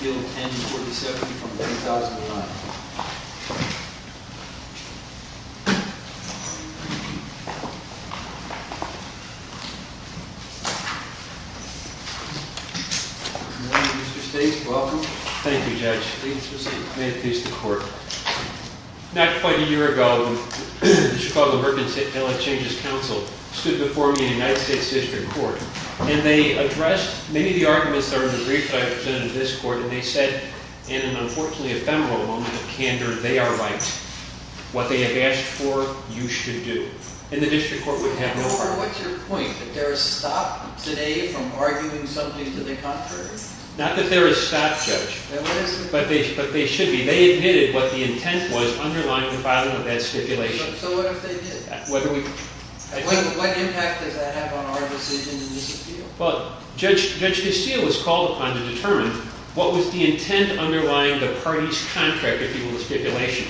appeal 1047 from 1009. Good morning Mr. States, welcome. Thank you Judge. May it please the court. Not quite a year ago, the Chicago Mercantile Exchanges Council stood before me in a United States District Court, and they addressed many of the arguments that are in the briefs that I presented to this court, and they said, in an unfortunately ephemeral moment of candor, they are right. What they have asked for, you should do. And the District Court would have no problem. What's your point? That there is a stop today from arguing something to the contrary? Not that there is a stop, Judge. There isn't? But there should be. They admitted what the intent was underlying the bottom of that stipulation. So what if they did? What impact does that have on our decision in this appeal? Judge Castillo was called upon to determine what was the intent underlying the party's contract, if you will, the stipulation.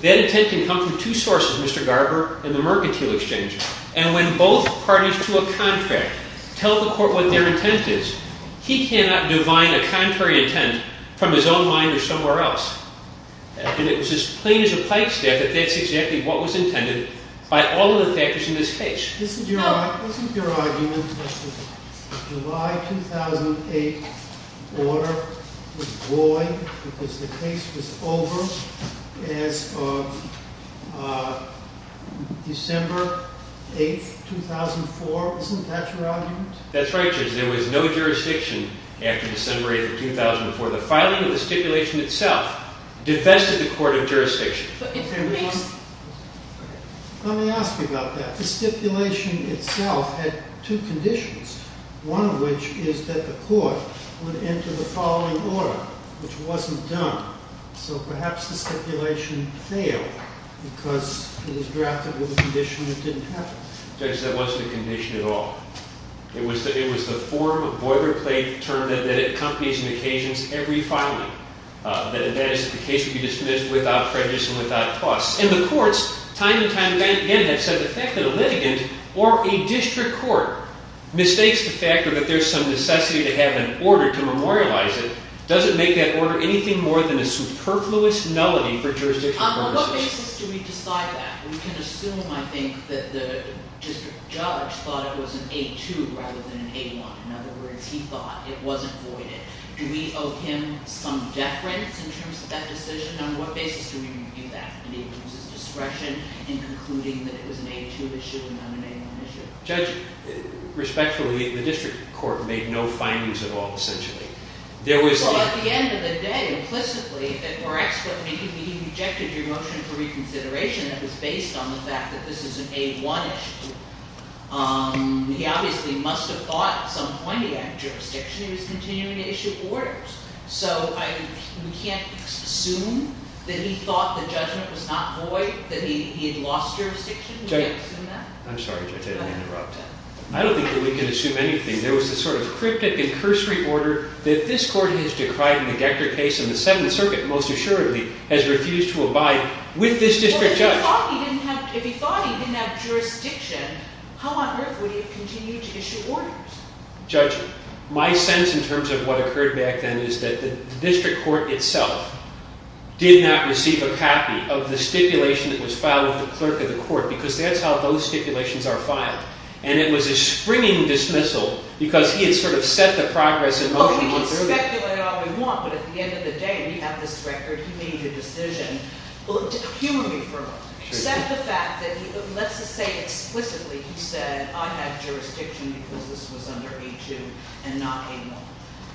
That intent can come from two sources, Mr. Garber and the Mercantile Exchange. And when both parties to a contract tell the court what their intent is, he cannot divine a contrary intent from his own mind or somewhere else. And it was as plain as a pipe stack that that's exactly what was intended by all of the factors in this case. Isn't your argument that the July 2008 order was void because the case was over as of December 8, 2004? Isn't that your argument? That's right, Judge. There was no jurisdiction after December 8, 2004. The filing of the stipulation itself defested the court of jurisdiction. Let me ask you about that. The stipulation itself had two conditions, one of which is that the court would enter the following order, which wasn't done. So perhaps the stipulation failed because it was drafted with a condition that didn't happen. Judge, that wasn't a condition at all. It was the form of boilerplate term that accompanies on occasions every filing, that the case would be dismissed without prejudice and without tuss. And the courts, time and time again, have said the fact that a litigant or a district court mistakes the fact that there's some necessity to have an order to memorialize it doesn't make that order anything more than a superfluous nullity for jurisdiction purposes. On what basis do we decide that? We can assume, I think, that the district judge thought it was an 8-2 rather than an 8-1. In other words, he thought it wasn't voided. Do we owe him some deference in terms of that decision? On what basis do we review that? Did he lose his discretion in concluding that it was an 8-2 issue and not an 8-1 issue? Judge, respectfully, the district court made no findings at all, essentially. Well, at the end of the day, implicitly, if it were expedient, I mean, he rejected your motion for reconsideration that was based on the fact that this is an 8-1 issue. He obviously must have thought at some point he had jurisdiction. He was continuing to issue orders. So we can't assume that he thought the judgment was not void, that he had lost jurisdiction? We can't assume that? I'm sorry, Judge, I didn't mean to interrupt. I don't think that we can assume anything. There was this sort of cryptic and cursory order that this court has decried in the Decker case and the Seventh Circuit, most assuredly, has refused to abide with this district judge. Well, if he thought he didn't have jurisdiction, how on earth would he have continued to issue orders? Judge, my sense in terms of what occurred back then is that the district court itself did not receive a copy of the stipulation that was filed with the clerk of the court because that's how those stipulations are filed. And it was a springing dismissal because he had sort of set the progress in motion much earlier. We can speculate all we want, but at the end of the day, we have this record. He made the decision. Humanly, for a moment. Except the fact that, let's just say explicitly, he said, I have jurisdiction because this was under A2 and not A1.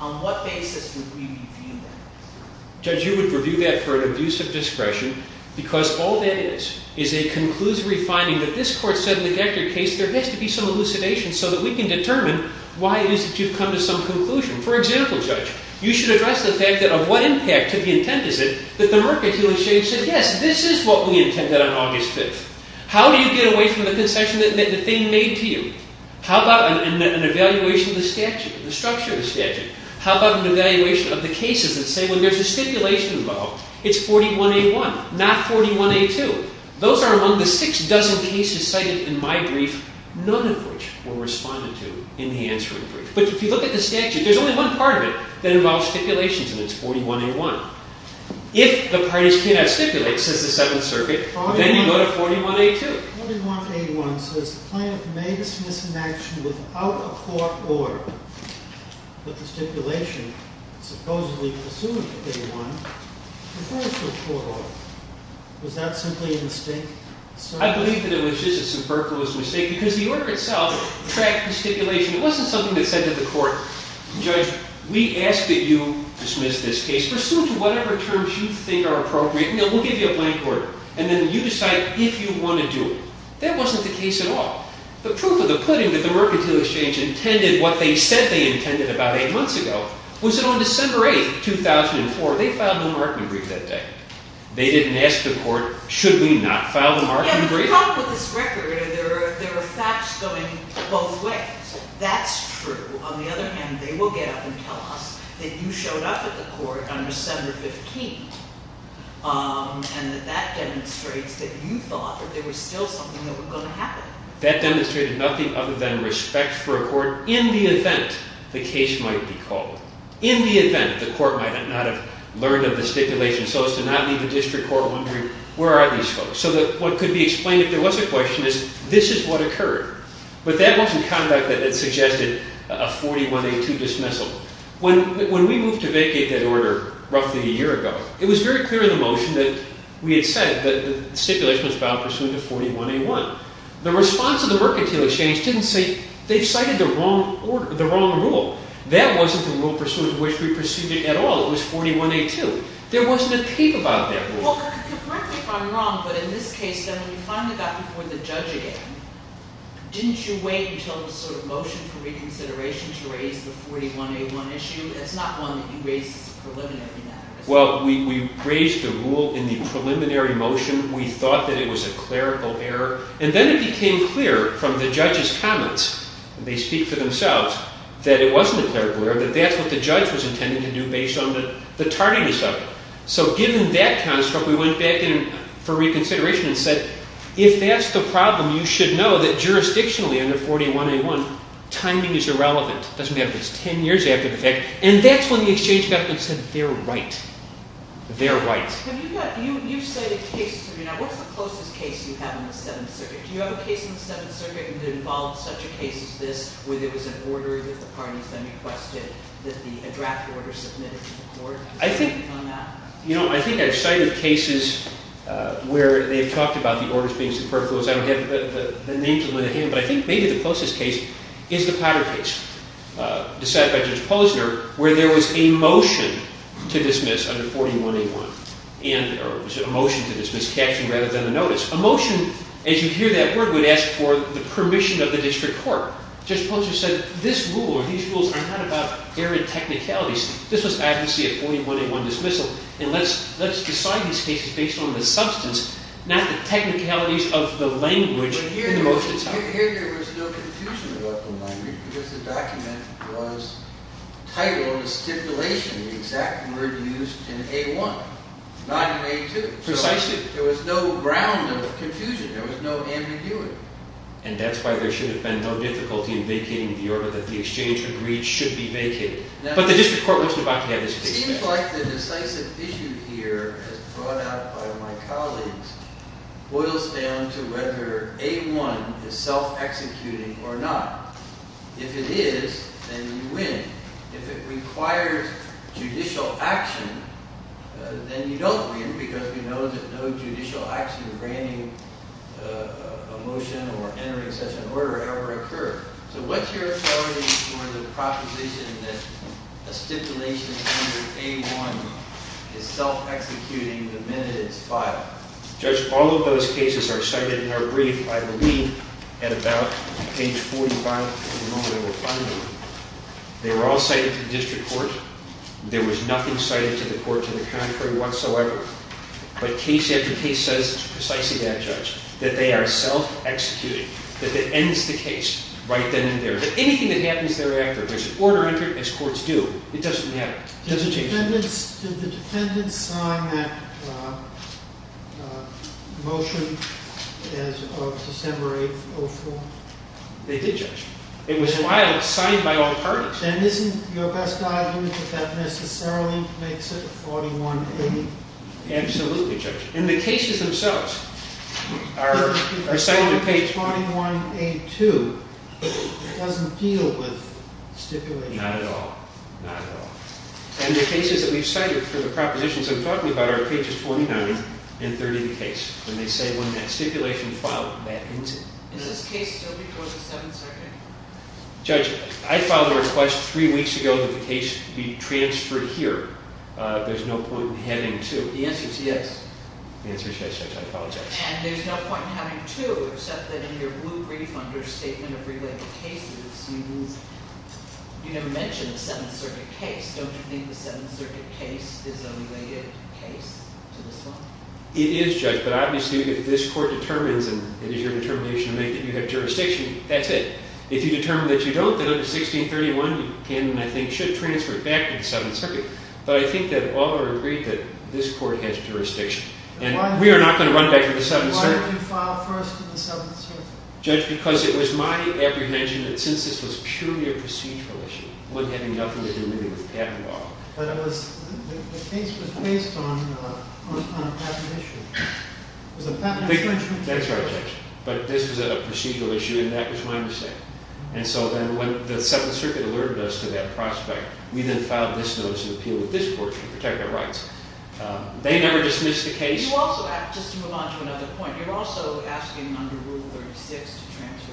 On what basis would we review that? Judge, you would review that for an abuse of discretion because all that is is a conclusory finding that this court said in the Decker case there has to be some elucidation so that we can determine why it is that you've come to some conclusion. For example, Judge, you should address the fact that of what impact to the intent is it that the mercantilist said, yes, this is what we intended on August 5th. How do you get away from the concession that the thing made to you? How about an evaluation of the statute, the structure of the statute? How about an evaluation of the cases that say when there's a stipulation involved, it's 41A1, not 41A2. Those are among the six dozen cases cited in my brief, none of which were responded to in the answering brief. But if you look at the statute, there's only one part of it that involves stipulations, and it's 41A1. If the parties cannot stipulate, says the Seventh Circuit, then you go to 41A2. 41A1 says the plaintiff may dismiss an action without a court order, but the stipulation supposedly presumes a court order. Was that simply a mistake? I believe that it was just a superfluous mistake because the order itself tracked the stipulation. It wasn't something that said to the court, Judge, we ask that you dismiss this case. Pursue it to whatever terms you think are appropriate, and we'll give you a plaintiff order. And then you decide if you want to do it. That wasn't the case at all. The proof of the pudding that the Mercantile Exchange intended what they said they intended about eight months ago was that on December 8th, 2004, they filed the Markman brief that day. You talk about this record, and there are facts going both ways. That's true. On the other hand, they will get up and tell us that you showed up at the court on December 15th and that that demonstrates that you thought that there was still something that was going to happen. That demonstrated nothing other than respect for a court in the event the case might be called, in the event the court might not have learned of the stipulation, so as to not leave the district court wondering, where are these folks? So that what could be explained if there was a question is, this is what occurred. But that wasn't conduct that suggested a 41A2 dismissal. When we moved to vacate that order roughly a year ago, it was very clear in the motion that we had said that the stipulation was bound pursuant to 41A1. The response of the Mercantile Exchange didn't say, they've cited the wrong rule. That wasn't the rule pursuant to which we pursued it at all. It was 41A2. There wasn't a tape about that rule. Well, correct me if I'm wrong, but in this case, when you finally got before the judge again, didn't you wait until the motion for reconsideration to raise the 41A1 issue? That's not one that you raised as a preliminary matter. Well, we raised the rule in the preliminary motion. We thought that it was a clerical error. And then it became clear from the judge's comments, and they speak for themselves, that it wasn't a clerical error, that that's what the judge was intending to do based on the tardiness of it. So given that construct, we went back for reconsideration and said, if that's the problem, you should know that jurisdictionally under 41A1, timing is irrelevant. It doesn't matter if it's 10 years after the fact. And that's when the exchange government said, they're right. They're right. You've cited cases. What's the closest case you have in the Seventh Circuit? Do you have a case in the Seventh Circuit that involves such a case as this, I think I've cited cases where they've talked about the orders being superfluous. I don't have the names in my hand. But I think maybe the closest case is the Potter case decided by Judge Posner, where there was a motion to dismiss under 41A1, or a motion to dismiss, captioned rather than a notice. A motion, as you hear that word, would ask for the permission of the district court. Judge Posner said, this rule or these rules are not about errant technicalities. This was advocacy of 41A1 dismissal, and let's decide these cases based on the substance, not the technicalities of the language in the motion itself. Here there was no confusion about the language, because the document was titled, a stipulation, the exact word used in A1, not in A2. Precisely. There was no ground of confusion. There was no ambiguity. And that's why there should have been no difficulty in vacating the order that the exchange agreed should be vacated. But the district court wants to vacate it. It seems like the decisive issue here, as brought out by my colleagues, boils down to whether A1 is self-executing or not. If it is, then you win. If it requires judicial action, then you don't win, because we know that no judicial action granting a motion or entering such an order ever occurred. So what's your authority for the proposition that a stipulation under A1 is self-executing the minute it's filed? Judge, all of those cases are cited in our brief, I believe, at about page 45, at the moment of our funding. They were all cited to the district court. There was nothing cited to the court to the contrary whatsoever. But case after case says precisely that, Judge, that they are self-executing, that that ends the case right then and there. Anything that happens thereafter, there's an order entered, as courts do. It doesn't matter. It doesn't change anything. Did the defendants sign that motion as of December 8th, 2004? They did, Judge. It was filed, signed by all parties. Then isn't your best argument that that necessarily makes it a 41A? Absolutely, Judge. And the cases themselves are cited in page 41A2. It doesn't deal with stipulation. Not at all. Not at all. And the cases that we've cited for the propositions I'm talking about are pages 49 and 30 of the case. And they say when that stipulation is filed, that ends it. Is this case still before the Seventh Circuit? Judge, I filed a request three weeks ago that the case be transferred here. There's no point in having two. The answer is yes. The answer is yes, Judge. I apologize. And there's no point in having two, except that in your blue brief on your statement of related cases, you never mentioned the Seventh Circuit case. Don't you think the Seventh Circuit case is a related case to this one? It is, Judge. But obviously, if this court determines and it is your determination to make that you have jurisdiction, that's it. If you determine that you don't, then under 1631, you can and I think should transfer it back to the Seventh Circuit. But I think that all are agreed that this court has jurisdiction. And we are not going to run back to the Seventh Circuit. Why did you file first to the Seventh Circuit? Judge, because it was my apprehension that since this was purely a procedural issue, it wouldn't have anything to do with patent law. But the case was based on a patent issue. That's right, Judge. But this was a procedural issue, and that was my mistake. And so then when the Seventh Circuit alerted us to that prospect, we then filed this notice of appeal with this court to protect their rights. They never dismissed the case. Just to move on to another point, you're also asking under Rule 36 to transfer.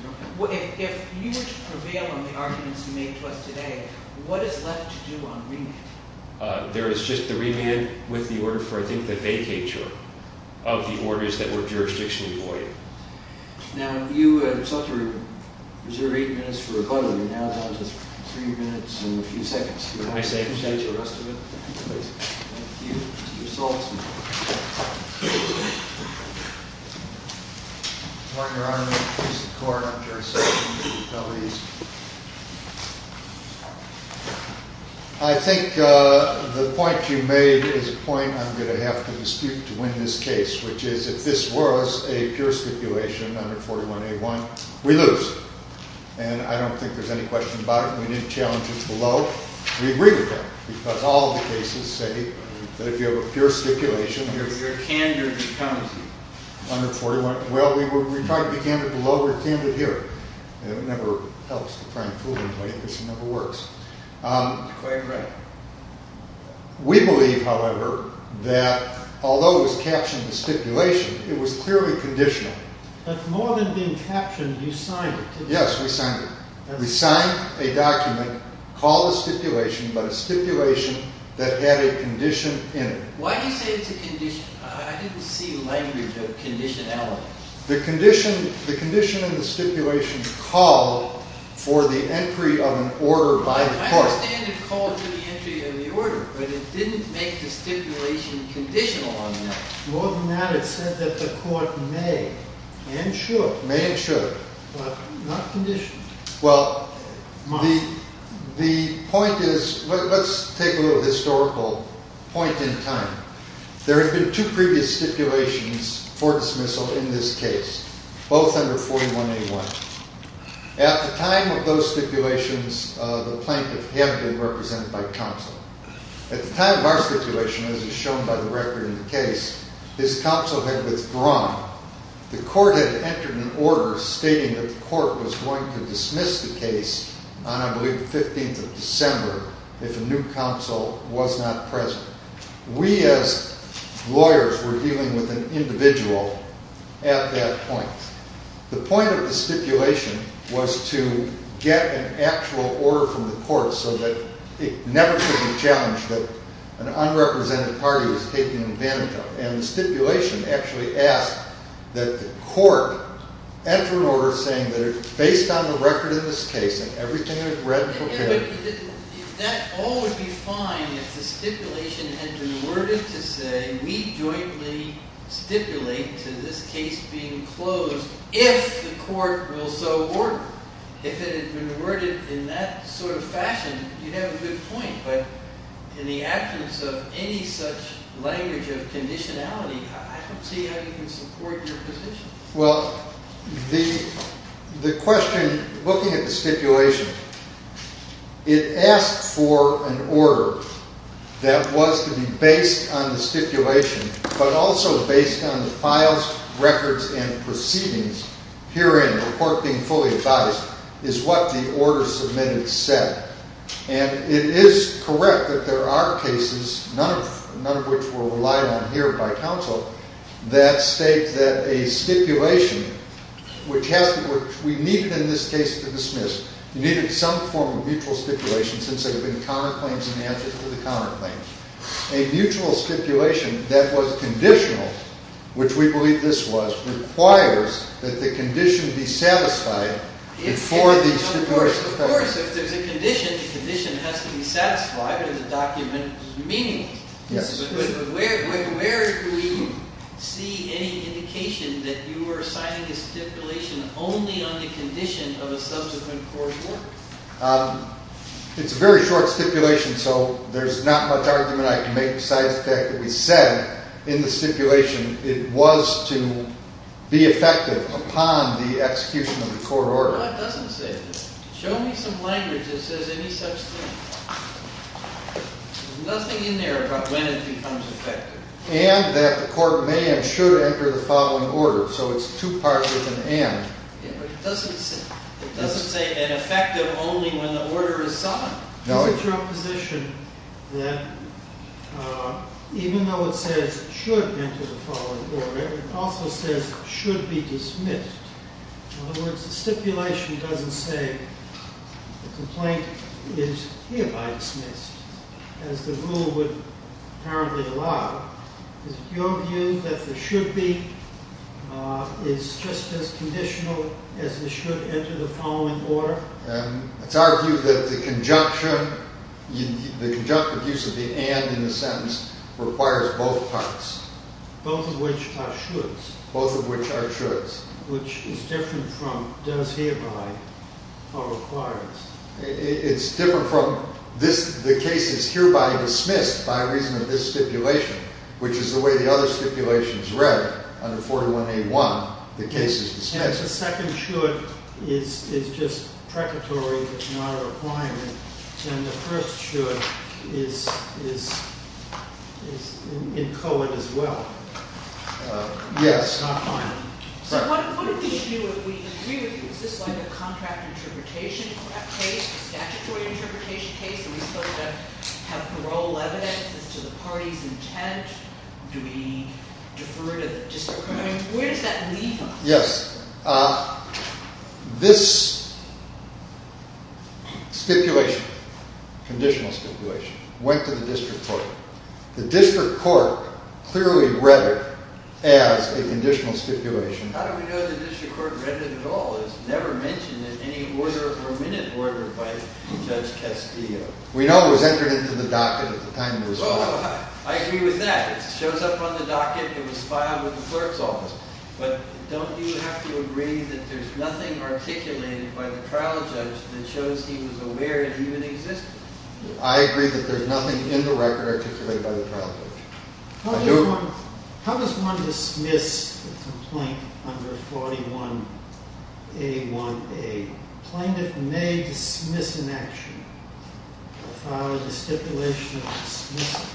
If you were to prevail on the arguments you made to us today, what is left to do on remand? There is just the remand with the order for, I think, the vacature of the orders that were jurisdictionally void. Now, you have sought to reserve eight minutes for rebuttal. You're now down to three minutes and a few seconds. Do you want to take the rest of it? Thank you. I think the point you made is a point I'm going to have to dispute to win this case, which is if this was a pure stipulation, under 41A1, we lose. And I don't think there's any question about it. We need challenges below. We agree with that, because all the cases say that if you have a pure stipulation, But you're candor becomes you. under 41. Well, we tried to be candor below. We're candor here. It never helps to try and fool anybody. This never works. Quite right. We believe, however, that although it was captioned as stipulation, it was clearly conditional. But more than being captioned, you signed it, didn't you? Yes, we signed it. We signed a document called a stipulation, but a stipulation that had a condition in it. Why do you say it's a condition? I didn't see language of conditionality. The condition in the stipulation called for the entry of an order by the court. I understand it called for the entry of the order, but it didn't make the stipulation conditional on that. More than that, it said that the court may and should. May and should. But not conditional. Well, the point is, let's take a little historical point in time. There had been two previous stipulations for dismissal in this case, both under 41A1. At the time of those stipulations, the plaintiff had been represented by counsel. At the time of our stipulation, as is shown by the record in the case, his counsel had withdrawn. The court had entered an order stating that the court was going to dismiss the case on, I believe, the 15th of December, if a new counsel was not present. We, as lawyers, were dealing with an individual at that point. The point of the stipulation was to get an actual order from the court so that it never should be challenged that an unrepresented party was taking advantage of it. And the stipulation actually asked that the court enter an order saying that it's based on the record in this case and everything is read and fulfilled. That all would be fine if the stipulation had been worded to say, we jointly stipulate to this case being closed if the court will so order. If it had been worded in that sort of fashion, you'd have a good point. But in the absence of any such language of conditionality, I don't see how you can support your position. Well, the question, looking at the stipulation, it asked for an order that was to be based on the stipulation, but also based on the files, records, and proceedings. Herein, the court being fully advised, is what the order submitted said. And it is correct that there are cases, none of which were relied on here by counsel, that state that a stipulation, which we needed in this case to dismiss, you needed some form of mutual stipulation since there had been counterclaims in the absence of the counterclaims. A mutual stipulation that was conditional, which we believe this was, requires that the condition be satisfied before the stipulation is passed. Of course, if there's a condition, the condition has to be satisfied, and the document is meaningful. But where do we see any indication that you are assigning a stipulation only on the condition of a subsequent court order? It's a very short stipulation, so there's not much argument I can make besides the fact that we said in the stipulation it was to be effective upon the execution of the court order. No, it doesn't say that. Show me some language that says any such thing. There's nothing in there about when it becomes effective. And that the court may and should enter the following order. So it's two parts with an and. Yeah, but it doesn't say ineffective only when the order is signed. No. Is it your position that even though it says it should enter the following order, it also says it should be dismissed? In other words, the stipulation doesn't say the complaint is hereby dismissed, as the rule would apparently allow. Is it your view that the should be is just as conditional as the should enter the following order? It's our view that the conjunctive use of the and in the sentence requires both parts. Both of which are shoulds. Both of which are shoulds. Which is different from does hereby or requires. It's different from the case is hereby dismissed by reason of this stipulation, which is the way the other stipulation is read under 421A1, the case is dismissed. And if the second should is just precatory but not a requirement, then the first should is in coed as well. Yes. So what would we do if we agree with you? Is this like a contract interpretation case? A statutory interpretation case? Are we supposed to have parole evidence? Is this to the party's intent? Do we defer to the district court? Where does that leave us? Yes. This stipulation, conditional stipulation, went to the district court. The district court clearly read it as a conditional stipulation. How do we know the district court read it at all? It's never mentioned in any order or minute order by Judge Castillo. We know it was entered into the docket at the time it was filed. I agree with that. It shows up on the docket. It was filed with the clerk's office. But don't you have to agree that there's nothing articulated by the trial judge that shows he was aware it even existed? I agree that there's nothing in the record articulated by the trial judge. How does one dismiss a complaint under 41A1A? Plaintiff may dismiss an action without a stipulation of dismissal.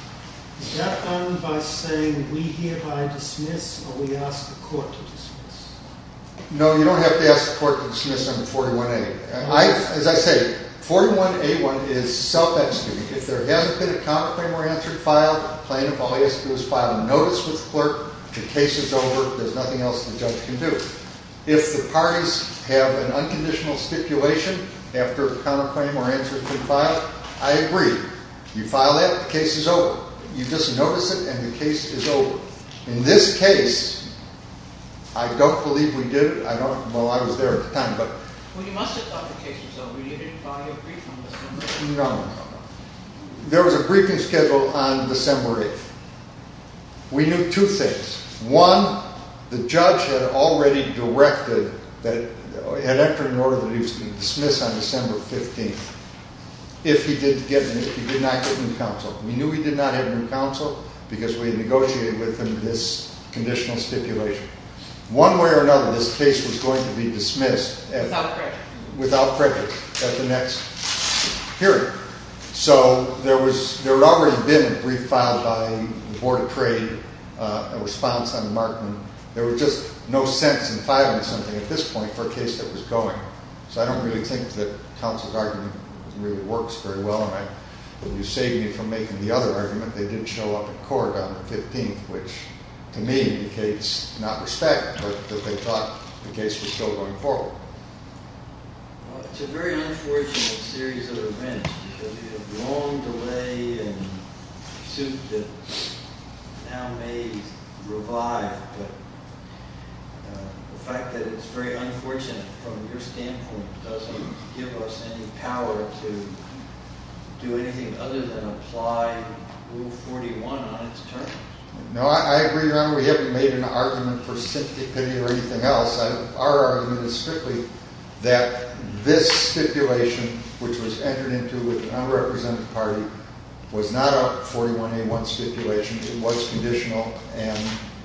Is that done by saying we hereby dismiss or we ask the court to dismiss? No, you don't have to ask the court to dismiss under 41A. As I say, 41A1 is self-executing. If there hasn't been a counterclaim or answer filed, plaintiff only has to do is file a notice with the clerk. The case is over. There's nothing else the judge can do. If the parties have an unconditional stipulation after a counterclaim or answer has been filed, I agree. You file that, the case is over. You just notice it, and the case is over. In this case, I don't believe we did it. I don't know. I was there at the time. Well, you must have thought the case was over. You didn't file your brief on December 8th. No, no, no. There was a briefing scheduled on December 8th. We knew two things. One, the judge had already directed, had entered an order that he was going to dismiss on December 15th if he did not get new counsel. We knew he did not get new counsel because we had negotiated with him this conditional stipulation. One way or another, this case was going to be dismissed without prejudice at the next hearing. So, there had already been a brief filed by the Board of Trade, a response on Martin. There was just no sense in filing something at this point for a case that was going. So, I don't really think that counsel's argument really works very well, and you save me from making the other argument. They didn't show up at court on the 15th, which to me indicates not respect, but that they thought the case was still going forward. Well, it's a very unfortunate series of events because you have long delay and a suit that now may revive. The fact that it's very unfortunate from your standpoint doesn't give us any power to do anything other than apply Rule 41 on its terms. No, I agree, Your Honor. We haven't made an argument for sympathy or anything else. Our argument is strictly that this stipulation, which was entered into with an unrepresented party, was not a 41A1 stipulation. It was conditional, and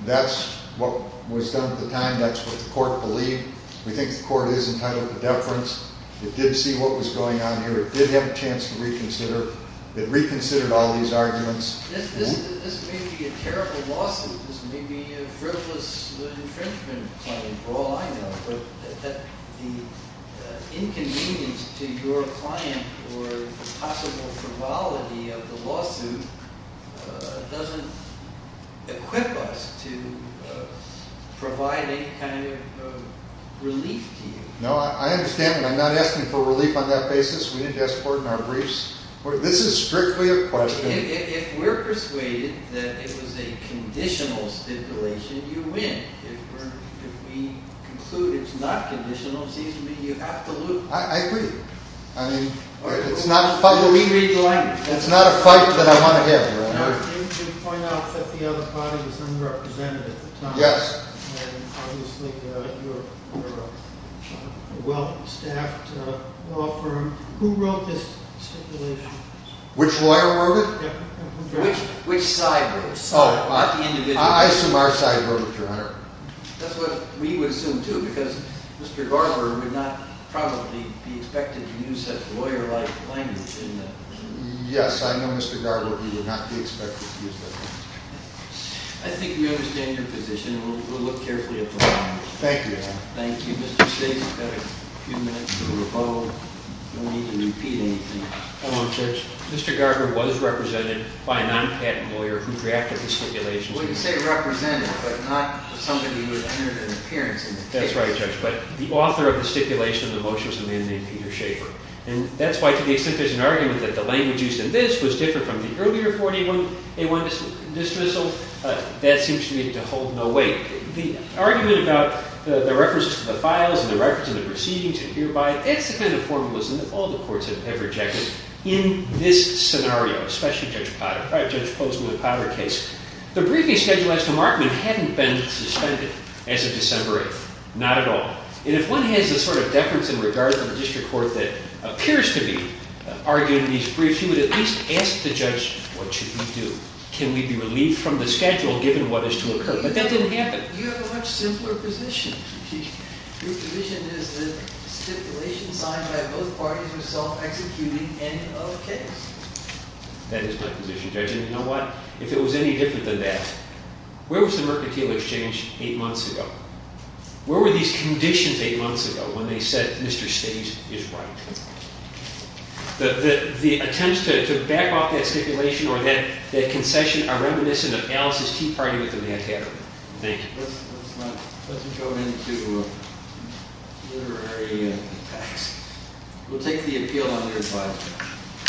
that's what was done at the time. That's what the court believed. We think the court is entitled to deference. It did see what was going on here. It did have a chance to reconsider. It reconsidered all these arguments. This may be a terrible lawsuit. This may be a frivolous infringement claim for all I know. But the inconvenience to your client or possible frivolity of the lawsuit doesn't equip us to provide any kind of relief to you. No, I understand, but I'm not asking for relief on that basis. We need to ask the court in our briefs. This is strictly a question. If we're persuaded that it was a conditional stipulation, you win. If we conclude it's not conditional, it seems to me you absolutely win. I agree. It's not a fight that I want to have, Your Honor. You point out that the other party was unrepresented at the time, and obviously you're a well-staffed law firm. Who wrote this stipulation? Which lawyer wrote it? Which side wrote it? Oh, I assume our side wrote it, Your Honor. That's what we would assume, too, because Mr. Garber would not probably be expected to use such lawyer-like language. Yes, I know, Mr. Garber, he would not be expected to use that language. I think we understand your position, and we'll look carefully at the language. Thank you, Your Honor. Thank you, Mr. State. We've got a few minutes to revoke. You don't need to repeat anything. Hold on, Judge. Mr. Garber was represented by a non-patent lawyer who drafted the stipulation. Well, you say represented, but not somebody who had entered an appearance in the case. That's right, Judge. But the author of the stipulation in the motion was a man named Peter Schaefer. And that's why, to the extent there's an argument that the language used in this was different from the earlier 41A1 dismissal, that seems to me to hold no weight. The argument about the reference to the files and the reference to the proceedings and hereby, that's the kind of formalism that all the courts have rejected in this scenario, especially Judge Posner and the Potter case. The briefing schedule as to Markman hadn't been suspended as of December 8th, not at all. And if one has a sort of deference in regard to the district court that appears to be arguing these briefs, you would at least ask the judge, what should we do? Can we be relieved from the schedule given what is to occur? But that didn't happen. You have a much simpler position. Your position is that stipulation signed by both parties was self-executing, end of case. That is my position, Judge. And you know what? If it was any different than that, where was the Mercantile Exchange eight months ago? Where were these conditions eight months ago when they said Mr. Stage is right? The attempts to back off that stipulation or that concession are reminiscent of Alice's Tea Party within Manhattan. Thank you. Let's go into literary attacks. We'll take the appeal on the advisory.